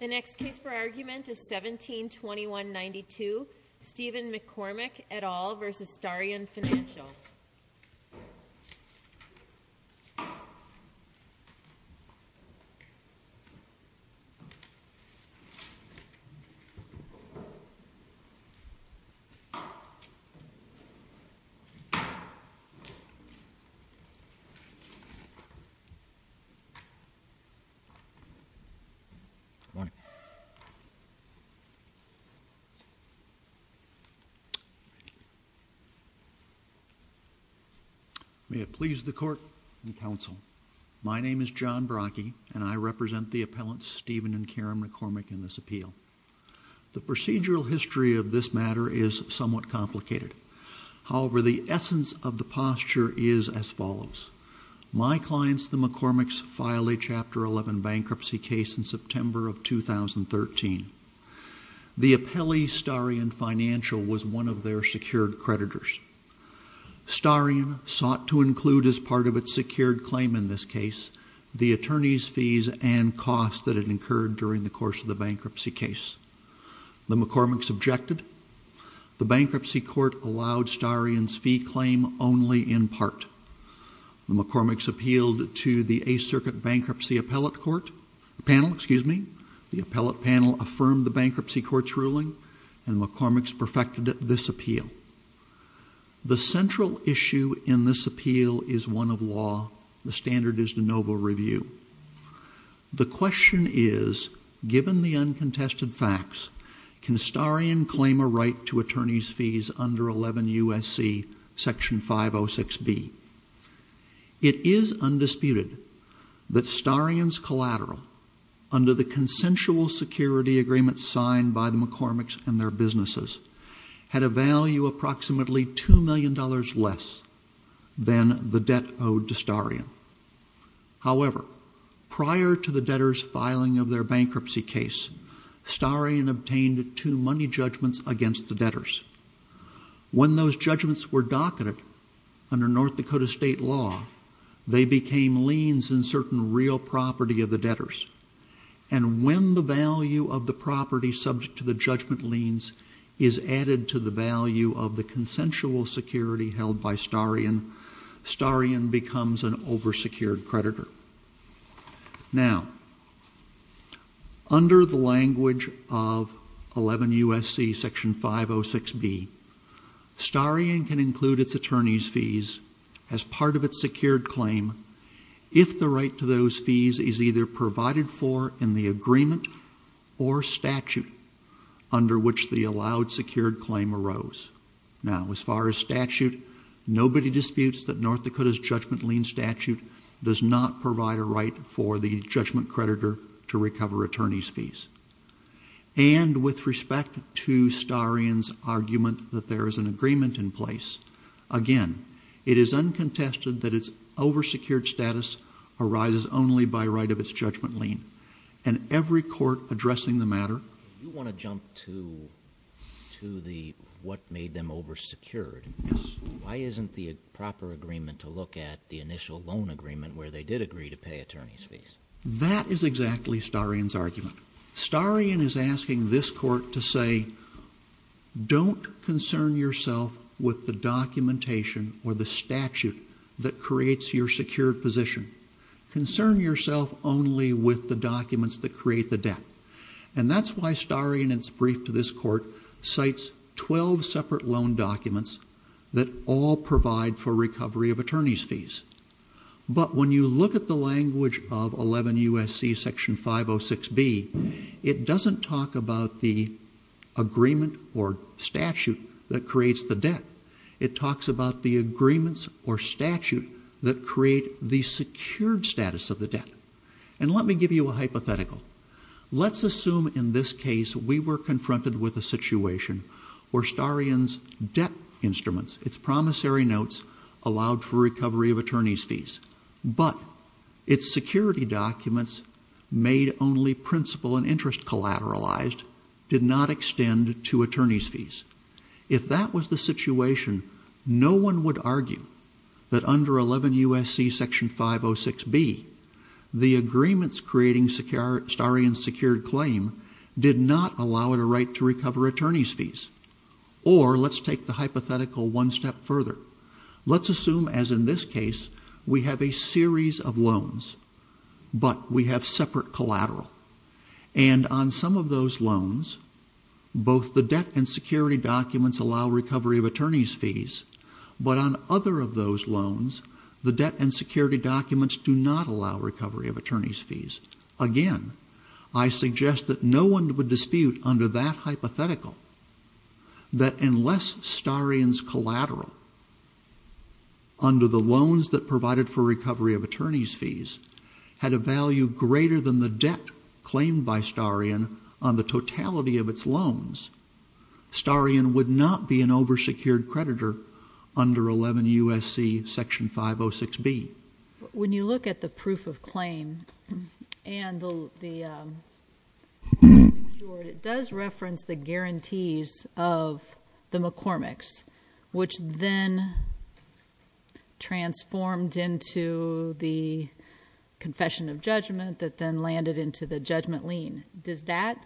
The next case for argument is 17-21-92 Stephen McCormick et al. v. Starion Financial May it please the Court and Counsel. My name is John Brachy, and I represent the appellants Stephen and Karen McCormick in this appeal. The procedural history of this matter is somewhat complicated. However, the essence of the posture is as follows. My clients, the McCormicks, file a Chapter 11 bankruptcy case in September of 2013. The appellee, Starion Financial, was one of their secured creditors. Starion sought to include as part of its secured claim in this case the attorney's fees and costs that it incurred during the course of the bankruptcy case. The McCormicks objected. The bankruptcy court allowed Starion's fee claim only in part. The McCormicks appealed to the Eighth Circuit Bankruptcy Appellate Court panel. The appellate panel affirmed the bankruptcy court's ruling, and the McCormicks perfected this appeal. The central issue in this appeal is one of law. The standard is de novo review. The question is, given the uncontested facts, can Starion claim a right to attorney's fees under 11 U.S.C. Section 506B? It is undisputed that Starion's collateral, under the consensual security agreement signed by the McCormicks and their businesses, had a value approximately $2 million less than the debt owed to Starion. However, prior to the debtors filing of their bankruptcy case, Starion obtained two money judgments against the debtors. When those judgments were docketed under North Dakota state law, they became liens in certain real property of the debtors. And when the value of the property subject to the judgment liens is added to the value of the consensual security held by Starion, Starion becomes an over-secured creditor. Now, under the language of 11 U.S.C. Section 506B, Starion can include its attorney's fees as part of its secured claim if the right to those fees is either provided for in the agreement or statute under which the allowed secured claim arose. Now, as far as statute, nobody disputes that North Dakota's judgment lien statute does not provide a right for the judgment creditor to recover attorney's fees. And with respect to Starion's argument that there is an agreement in place, again, it is uncontested that its over-secured status arises only by right of its judgment lien. And every court addressing the matter... You want to jump to the what made them over-secured. Why isn't the proper agreement to look at the initial loan agreement where they did agree to pay attorney's fees? That is exactly Starion's argument. Starion is asking this court to say, don't concern yourself with the documentation or the statute that creates your secured position. Concern yourself only with the documents that create the debt. And that's why Starion, in its brief to this court, cites 12 separate loan documents that all provide for recovery of attorney's fees. But when you look at the language of 11 U.S.C. Section 506B, it doesn't talk about the agreement or statute that creates the debt. It talks about the agreements or statute that create the secured status of the debt. And let me give you a hypothetical. Let's assume in this case we were confronted with a situation where Starion's debt instruments, its promissory notes, allowed for recovery of attorney's fees. But its security documents made only principal and interest collateralized did not extend to attorney's fees. If that was the situation, no one would argue that under 11 U.S.C. Section 506B, the agreements creating Starion's secured claim did not allow it a right to recover attorney's fees. Or let's take the hypothetical one step further. Let's assume, as in this case, we have a series of loans, but we have separate collateral. And on some of those loans, both the debt and security documents allow recovery of attorney's fees. But on other of those loans, the debt and security documents do not allow recovery of attorney's fees. Again, I suggest that no one would dispute under that hypothetical that unless Starion's collateral under the loans that provided for recovery of attorney's fees had a value greater than the debt claimed by Starion on the totality of its loans, Starion would not be an over-secured creditor under 11 U.S.C. Section 506B. When you look at the proof of claim and the insurance, it does reference the guarantees of the McCormick's, which then transformed into the confession of judgment that then landed into the judgment lien. Does that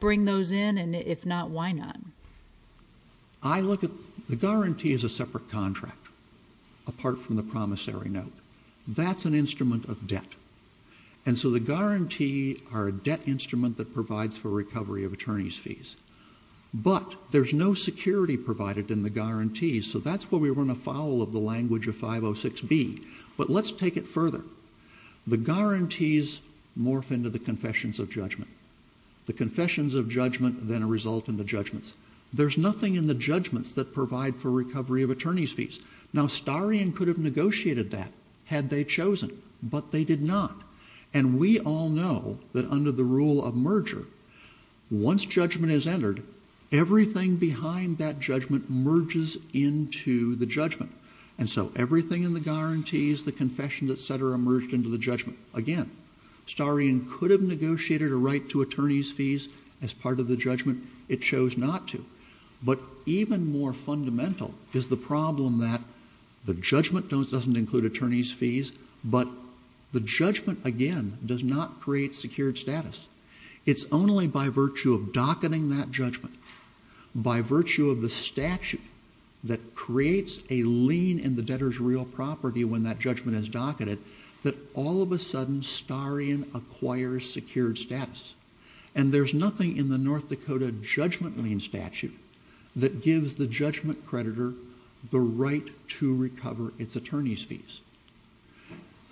bring those in? And if not, why not? I look at the guarantee as a separate contract, apart from the promissory note. That's an instrument of debt. And so the guarantee are a debt instrument that provides for recovery of attorney's fees. But there's no security provided in the guarantees, so that's where we run afoul of the language of 506B. But let's take it further. The guarantees morph into the confessions of judgment. The confessions of judgment then result in the judgments. There's nothing in the judgments that provide for recovery of attorney's fees. Now, Starion could have negotiated that had they chosen, but they did not. And we all know that under the rule of merger, once judgment is entered, everything behind that judgment merges into the judgment. And so everything in the guarantees, the confessions, et cetera, merged into the judgment. Again, Starion could have negotiated a right to attorney's fees as part of the judgment. It chose not to. But even more fundamental is the problem that the judgment doesn't include attorney's fees, but the judgment, again, does not create secured status. It's only by virtue of docketing that judgment, by virtue of the statute that creates a lien in the debtor's real property when that judgment is docketed, that all of a sudden Starion acquires secured status. And there's nothing in the North Dakota judgment lien statute that gives the judgment creditor the right to recover its attorney's fees.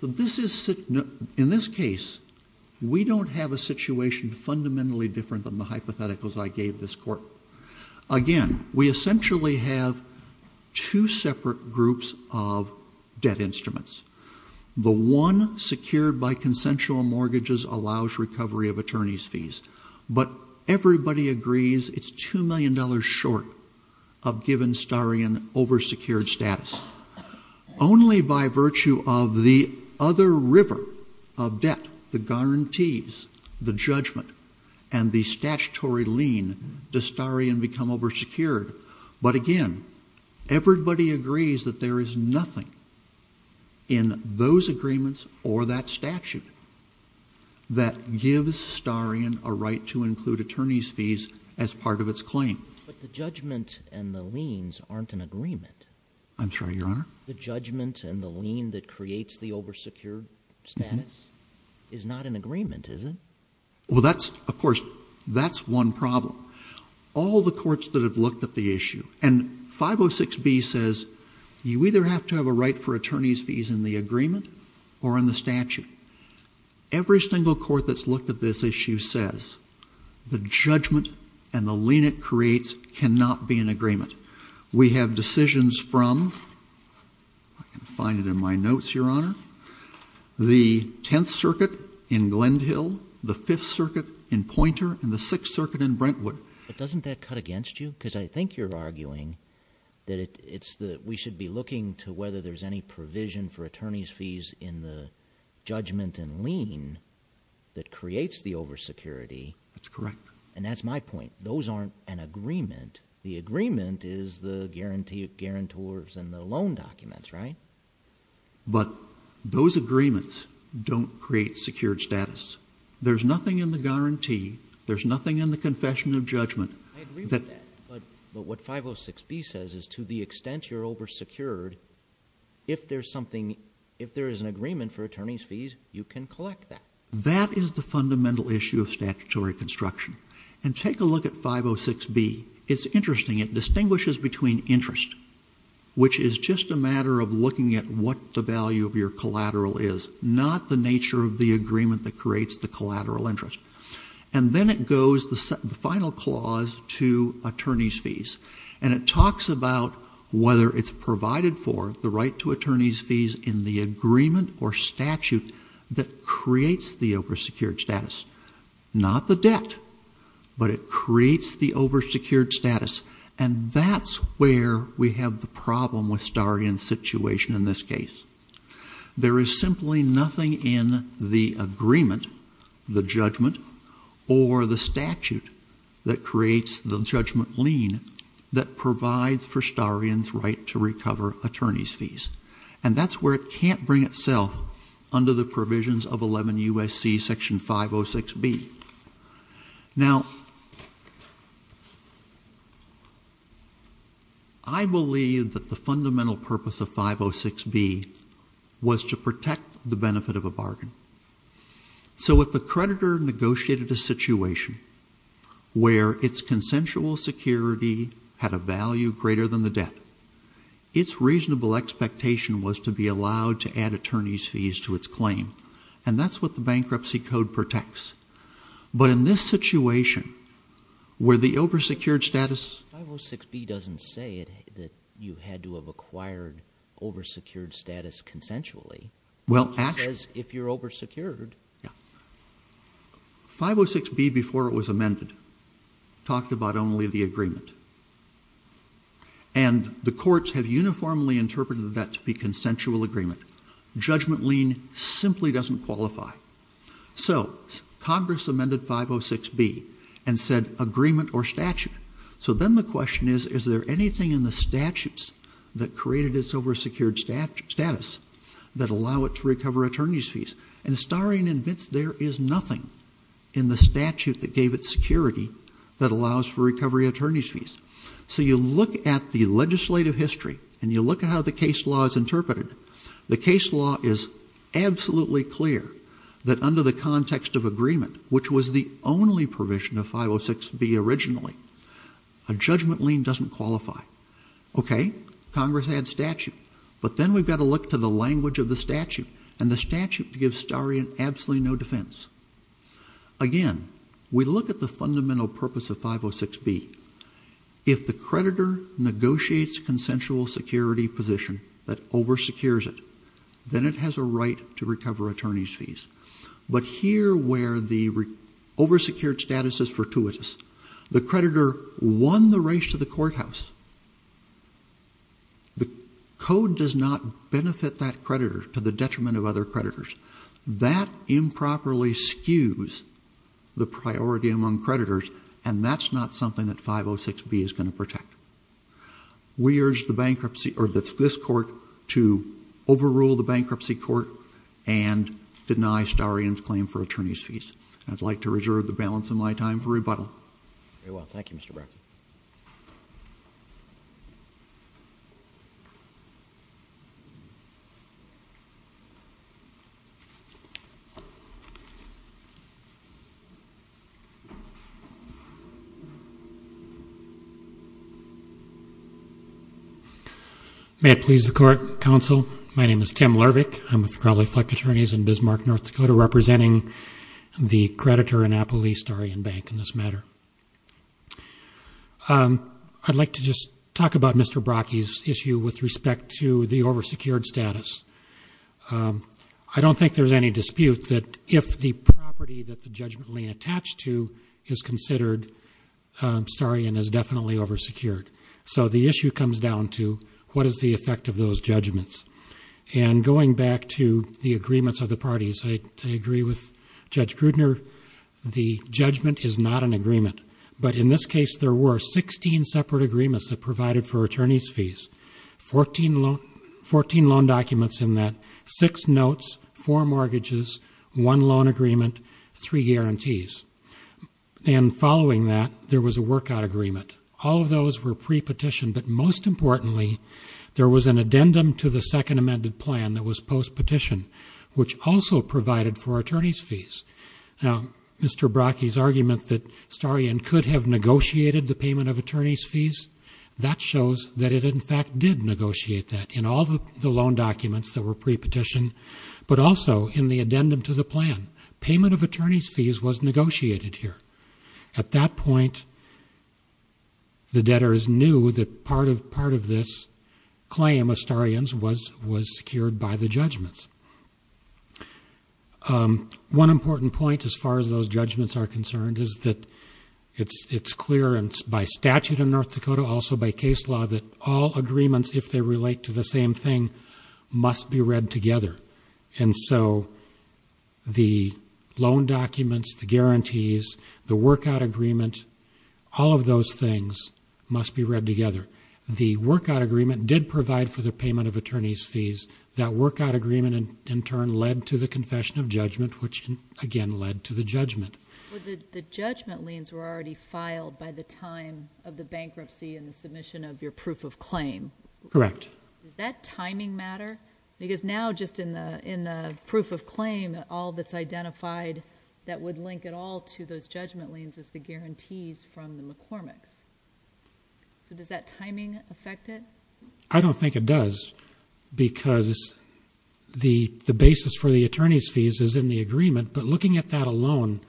In this case, we don't have a situation fundamentally different than the hypotheticals I gave this court. Again, we essentially have two separate groups of debt instruments. The one secured by consensual mortgages allows recovery of attorney's fees. But everybody agrees it's $2 million short of giving Starion oversecured status. Only by virtue of the other river of debt, the guarantees, the judgment, and the statutory lien does Starion become oversecured. But again, everybody agrees that there is nothing in those agreements or that statute that gives Starion a right to include attorney's fees as part of its claim. But the judgment and the liens aren't in agreement. I'm sorry, Your Honor? The judgment and the lien that creates the oversecured status is not in agreement, is it? Well, that's, of course, that's one problem. All the courts that have looked at the issue and 506B says you either have to have a right for attorney's fees in the agreement or in the statute. Every single court that's looked at this issue says the judgment and the lien it creates cannot be in agreement. We have decisions from, I can find it in my notes, Your Honor, the Tenth Circuit in Glendhill, the Fifth Circuit in Poynter, and the Sixth Circuit in Brentwood. But doesn't that cut against you? Because I think you're arguing that we should be looking to whether there's any provision for attorney's fees in the judgment and lien that creates the oversecurity. That's correct. And that's my point. Those aren't an agreement. The agreement is the guarantors and the loan documents, right? But those agreements don't create secured status. There's nothing in the guarantee. There's nothing in the confession of judgment. I agree with that. But what 506B says is to the extent you're oversecured, if there's something, if there is an agreement for attorney's fees, you can collect that. That is the fundamental issue of statutory construction. And take a look at 506B. It's interesting. It distinguishes between interest, which is just a matter of looking at what the value of your collateral is, not the nature of the agreement that creates the collateral interest. And then it goes, the final clause, to attorney's fees. And it talks about whether it's provided for, the right to attorney's fees in the agreement or statute that creates the oversecured status. Not the debt. But it creates the oversecured status. And that's where we have the problem with Starian's situation in this case. There is simply nothing in the agreement, the judgment, or the statute that creates the judgment lien that provides for Starian's right to recover attorney's fees. And that's where it can't bring itself under the provisions of 11 U.S.C. section 506B. Now, I believe that the fundamental purpose of 506B was to protect the benefit of a bargain. So if a creditor negotiated a situation where its consensual security had a value greater than the debt, its reasonable expectation was to be allowed to add attorney's fees to its claim. And that's what the Bankruptcy Code protects. But in this situation, where the oversecured status... 506B doesn't say that you had to have acquired oversecured status consensually. Well, actually... It says, if you're oversecured. Yeah. 506B, before it was amended, talked about only the agreement. And the courts have said, it simply doesn't qualify. So, Congress amended 506B and said, agreement or statute. So then the question is, is there anything in the statutes that created its oversecured status that allow it to recover attorney's fees? And Starian admits there is nothing in the statute that gave it security that allows for recovery attorney's fees. So you look at the legislative history, and you look at how the case law is interpreted, the case law is absolutely clear that under the context of agreement, which was the only provision of 506B originally, a judgment lien doesn't qualify. Okay. Congress adds statute. But then we've got to look to the language of the statute. And the statute gives Starian absolutely no defense. Again, we look at the fundamental purpose of 506B. If the creditor negotiates consensual security position that oversecures it, then it has a right to recover attorney's fees. But here, where the oversecured status is fortuitous, the creditor won the race to the courthouse. The code does not benefit that creditor to the detriment of other creditors. That improperly skews the priority among creditors, and that's not something that 506B is going to protect. We urge the bankruptcy or this court to overrule the bankruptcy court and deny Starian's claim for attorney's fees. I'd like to reserve the balance of my time for rebuttal. Very well. Thank you, Mr. Bracken. May it please the court, counsel. My name is Tim Lervick. I'm with Crowley Fleck Attorneys in Bismarck, North Dakota, representing the creditor in Apple East, Starian Bank, in this matter. I'd like to just talk about Mr. Bracken's issue with respect to the oversecured status. I don't think there's any dispute that if the property that the judgment lien attached to is considered Starian is definitely oversecured. So the issue comes down to what is the effect of those judgments. And going back to the agreements of the parties, I agree with Judge Grudner, the judgment is not an agreement. But in this case, there were 16 separate agreements that provided for attorney's fees, 14 loan documents in that, six notes, four mortgages, one loan agreement, three guarantees. And following that, there was a workout agreement. All of those were pre-petitioned, but most importantly, there was an addendum to the second amended plan that was post-petition, which also provided for attorney's fees. Now, Mr. Bracken's argument that Starian could have negotiated the payment of attorney's fees, that shows that it in fact did negotiate that in all the loan documents that were pre-petitioned, but also in the addendum to the plan. Payment of attorney's fees was negotiated here. At that point, the debtors knew that part of this claim of Starian's was secured by the judgments. One important point as far as those judgments are concerned is that it's clear and by statute in North Dakota, also by case law, that all agreements, if they relate to the same thing, must be read together. And so, the loan documents, the guarantees, the workout agreement, all of those things must be read together. The workout agreement did provide for the payment of attorney's fees. That workout agreement in turn led to the confession of judgment, which again led to the judgment. Well, the judgment liens were already filed by the time of the bankruptcy and the submission of your proof of claim. Correct. Does that timing matter? Because now, just in the proof of claim, all that's identified that would link it all to those judgment liens is the guarantees from the McCormick's. So, does that timing affect it? I don't think it does because the basis for the attorney's fees is in the agreement, but looking at that alone,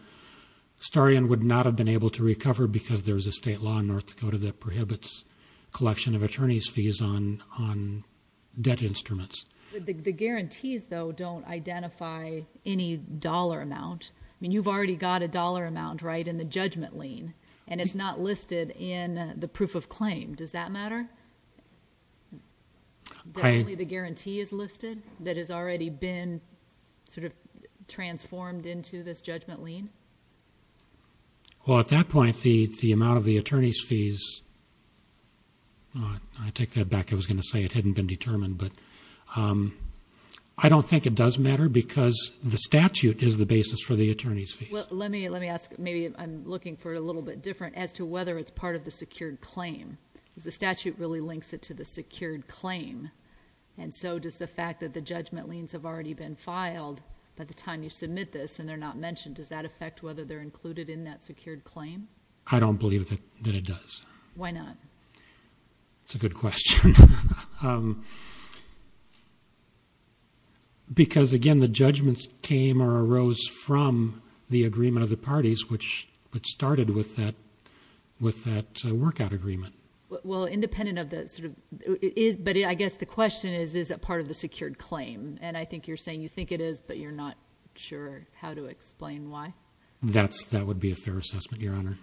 Starian would not have been able to recover because there's a state law in North Dakota that prohibits collection of attorney's fees on debt instruments. The guarantees, though, don't identify any dollar amount. I mean, you've already got a dollar amount, right, in the judgment lien, and it's not listed in the proof of claim. Does that matter? That only the guarantee is listed that has already been sort of transformed into this judgment lien? Well, at that point, the amount of the attorney's fees, I take that back. I was going to say it hadn't been determined, but I don't think it does matter because the statute is the basis for the attorney's fees. Well, let me ask, maybe I'm looking for it a little bit different, as to whether it's part of the secured claim. The statute really links it to the secured claim, and so does the fact that the judgment liens have already been filed by the time you submit this and they're not mentioned, does that affect whether they're included in that secured claim? I don't believe that it does. Why not? That's a good question. Because, again, the judgments came or arose from the agreement of the parties, which started with that workout agreement. Well, independent of that sort of, but I guess the question is, is it part of the secured claim? And I think you're saying you think it is, but you're not sure how to explain why. That would be a fair assessment, Your Honor.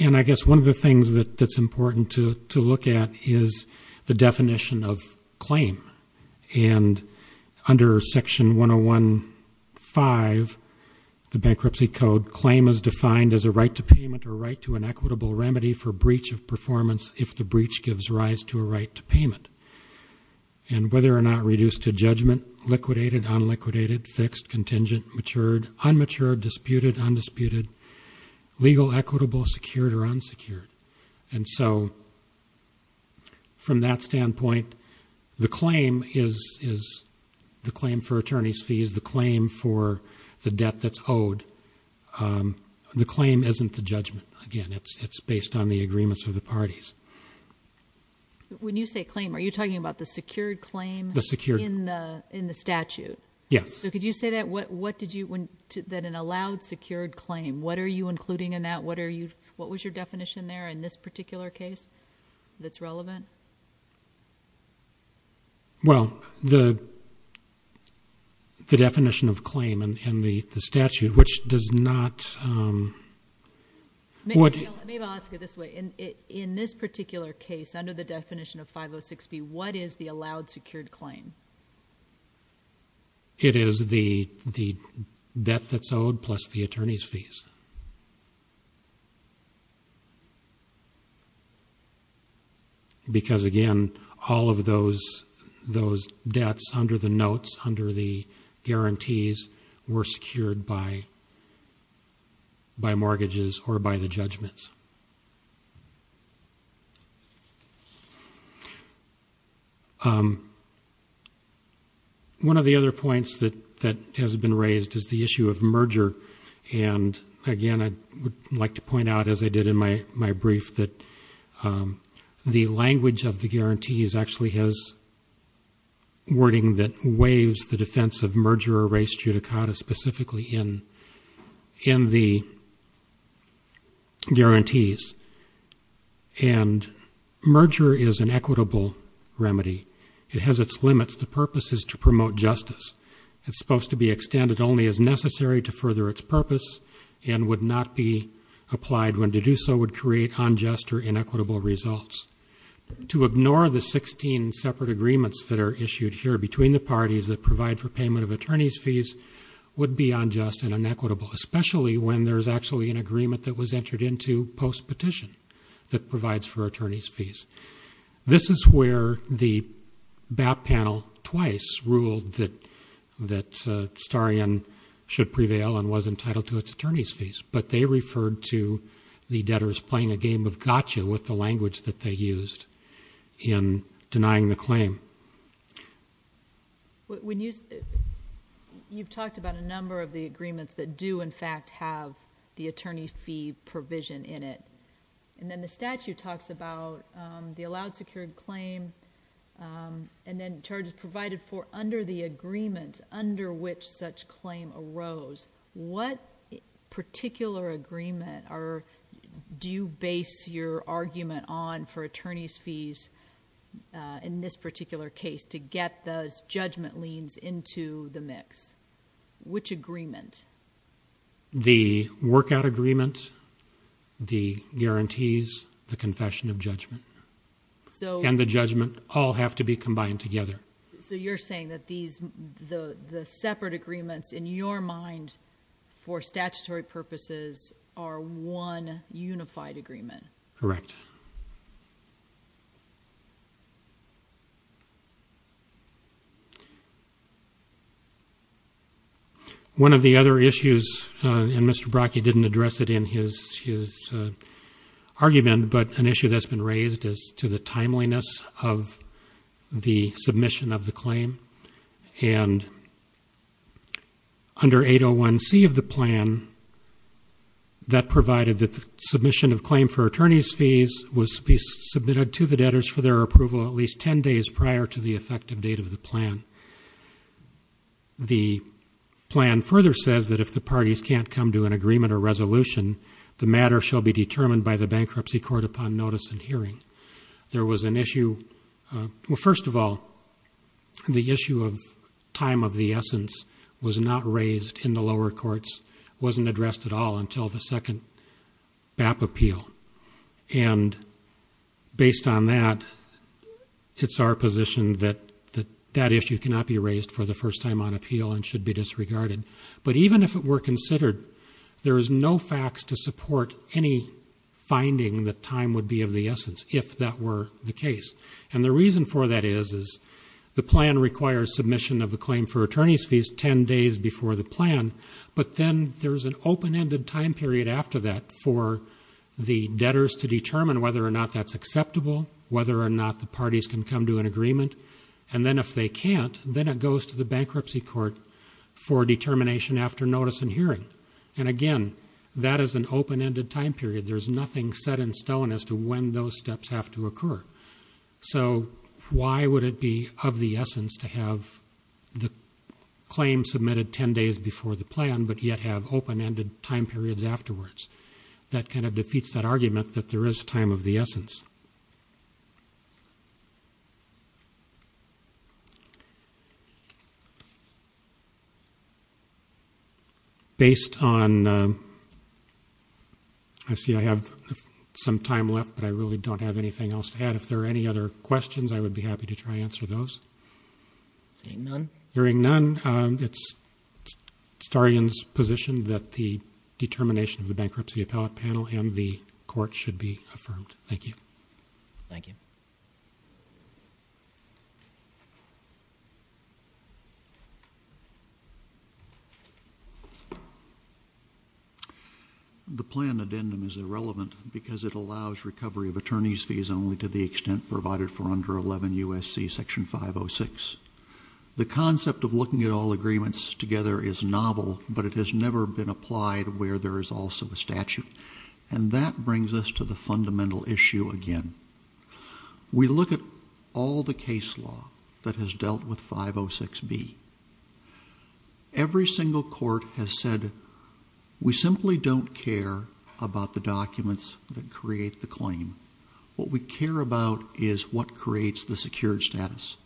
And I guess one of the things that's important to look at is the definition of claim. And under Section 101.5, the Bankruptcy Code, claim is defined as a right to payment or a right to an equitable remedy for breach of performance if the breach gives rise to a right to payment. And whether or not reduced to judgment, liquidated, unliquidated, fixed, contingent, matured, unmatured, disputed, undisputed, legal, equitable, secured, or unsecured. And so from that standpoint, the claim is the claim for attorney's fees, the claim for the debt that's owed. The claim isn't the judgment. Again, it's based on the agreements of the parties. When you say claim, are you talking about the secured claim? The secured. In the statute? Yes. So could you say that? What did you, that an allowed secured claim, what are you including in that statement? Well, the definition of claim in the statute, which does not... Maybe I'll ask it this way. In this particular case, under the definition of 506B, what is the allowed secured claim? It is the debt that's owed plus the attorney's fees. Because again, all of those debts under the notes, under the guarantees, were secured by mortgages or by the judgments. One of the other points that has been raised is the issue of merger. And again, I would like to point out, as I did in my brief, that the language of the guarantees actually has wording that waives the defense of merger or race judicata specifically in the guarantees. And merger is an equitable remedy. It has its limits. The purpose is to promote justice. It's supposed to be extended only as necessary to further its purpose and would not be applied when to do so would create unjust or inequitable results. To ignore the 16 separate agreements that are issued here between the parties that provide for payment of attorney's fees would be unjust and inequitable, especially when there's actually an agreement that was entered into post-petition that provides for attorney's fees. This is where the BAP panel twice ruled that Starian should prevail and was entitled to its attorney's fees. But they referred to the debtors playing a game of gotcha with the language that they used in denying the claim. You've talked about a number of the agreements that do, in fact, have the attorney's fee provision in it. And then the statute talks about the allowed secured claim and then charges provided for under the agreement under which such claim arose. What particular agreement do you base your argument on for attorney's fees in this particular case to get those judgment liens into the mix? Which agreement? The workout agreement, the guarantees, the confession of judgment. And the judgment all have to be combined together. So you're saying that the separate agreements in your mind for statutory purposes are one unified agreement? Correct. One of the other issues, and Mr. Bracke didn't address it in his argument, but an issue that's been raised is to the timeliness of the submission of the claim. And under 801C of the plan that provided the submission of claim for attorney's fees was to be submitted to the debtors for their approval at least 10 days prior to the effective date of the plan. The plan further says that if the parties can't come to an agreement or resolution, the matter shall be determined by the bankruptcy court upon notice and hearing. First of all, the issue of time of the essence was not raised in the lower courts, wasn't addressed at all until the second BAP appeal. And based on that, it's our position that that issue cannot be raised for the first time on appeal and should be disregarded. But even if it were considered, there is no facts to support any finding that time would be of the essence, if that were the case. And the reason for that is the plan requires submission of the claim for attorney's fees 10 days before the plan, but then there's an open-ended time period after that for the debtors to determine whether or not that's acceptable, whether or not the parties can come to an agreement, and then if they can't, then it goes to the bankruptcy court for determination after notice and hearing. And again, that is an open-ended time period. There's nothing set in stone as to when those steps have to occur. So why would it be of the essence to have the claim submitted 10 days before the plan, but yet have open-ended time periods afterwards? That kind of defeats that argument that there is time of the essence. Based on... I see I have some time left, but I really don't have anything else to add. If there are any other questions, I would be happy to try to answer those. Hearing none, it's Starian's position that the determination of the bankruptcy panel and the court should be affirmed. Thank you. Thank you. The plan addendum is irrelevant because it allows recovery of attorney's fees only to the extent provided for under 11 U.S.C. Section 506. The concept of looking at all agreements together is novel, but it has never been applied where there is also a statute. And that brings us to the fundamental issue again. We look at all the case law that has dealt with 506B. Every single court has said, we simply don't care about the documents that create the claim. What we care about is what creates the secured status.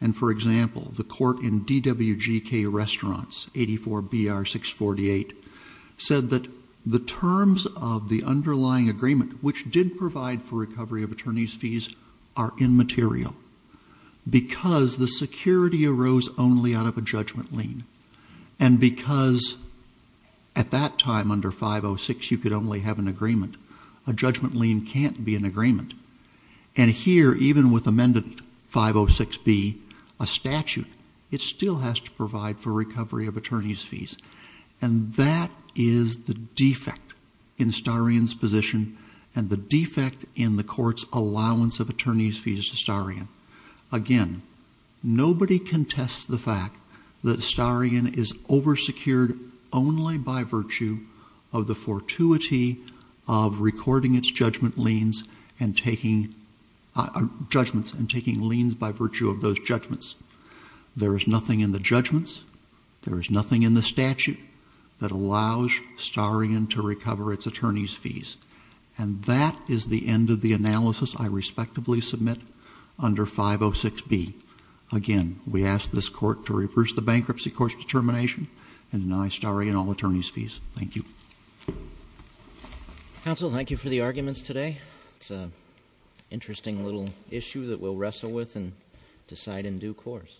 And for example, the court in DWGK Restaurants, 84 BR 648, said that the terms of the underlying agreement, which did provide for recovery of attorney's fees, are immaterial because the security arose only out of a judgment lien. And because at that time under 506 you could only have an agreement. A judgment lien can't be an agreement. And here, even with amendment 506B, a statute, it still has to provide for recovery of attorney's fees. And that is the defect in Starian's position and the defect in the court's allowance of attorney's fees to Starian. Again, nobody contests the fact that Starian is over-secured only by virtue of the fortuity of recording its judgment liens and taking liens by virtue of those judgments. There is nothing in the judgments, there is nothing in the statute that allows Starian to recover its attorney's fees. And that is the end of the analysis I respectively submit under 506B. Again, we ask this court to reverse the bankruptcy court's determination and deny Starian all attorney's fees. Thank you. Counsel, thank you for the arguments today. It's an interesting little issue that we'll wrestle with and decide in due course.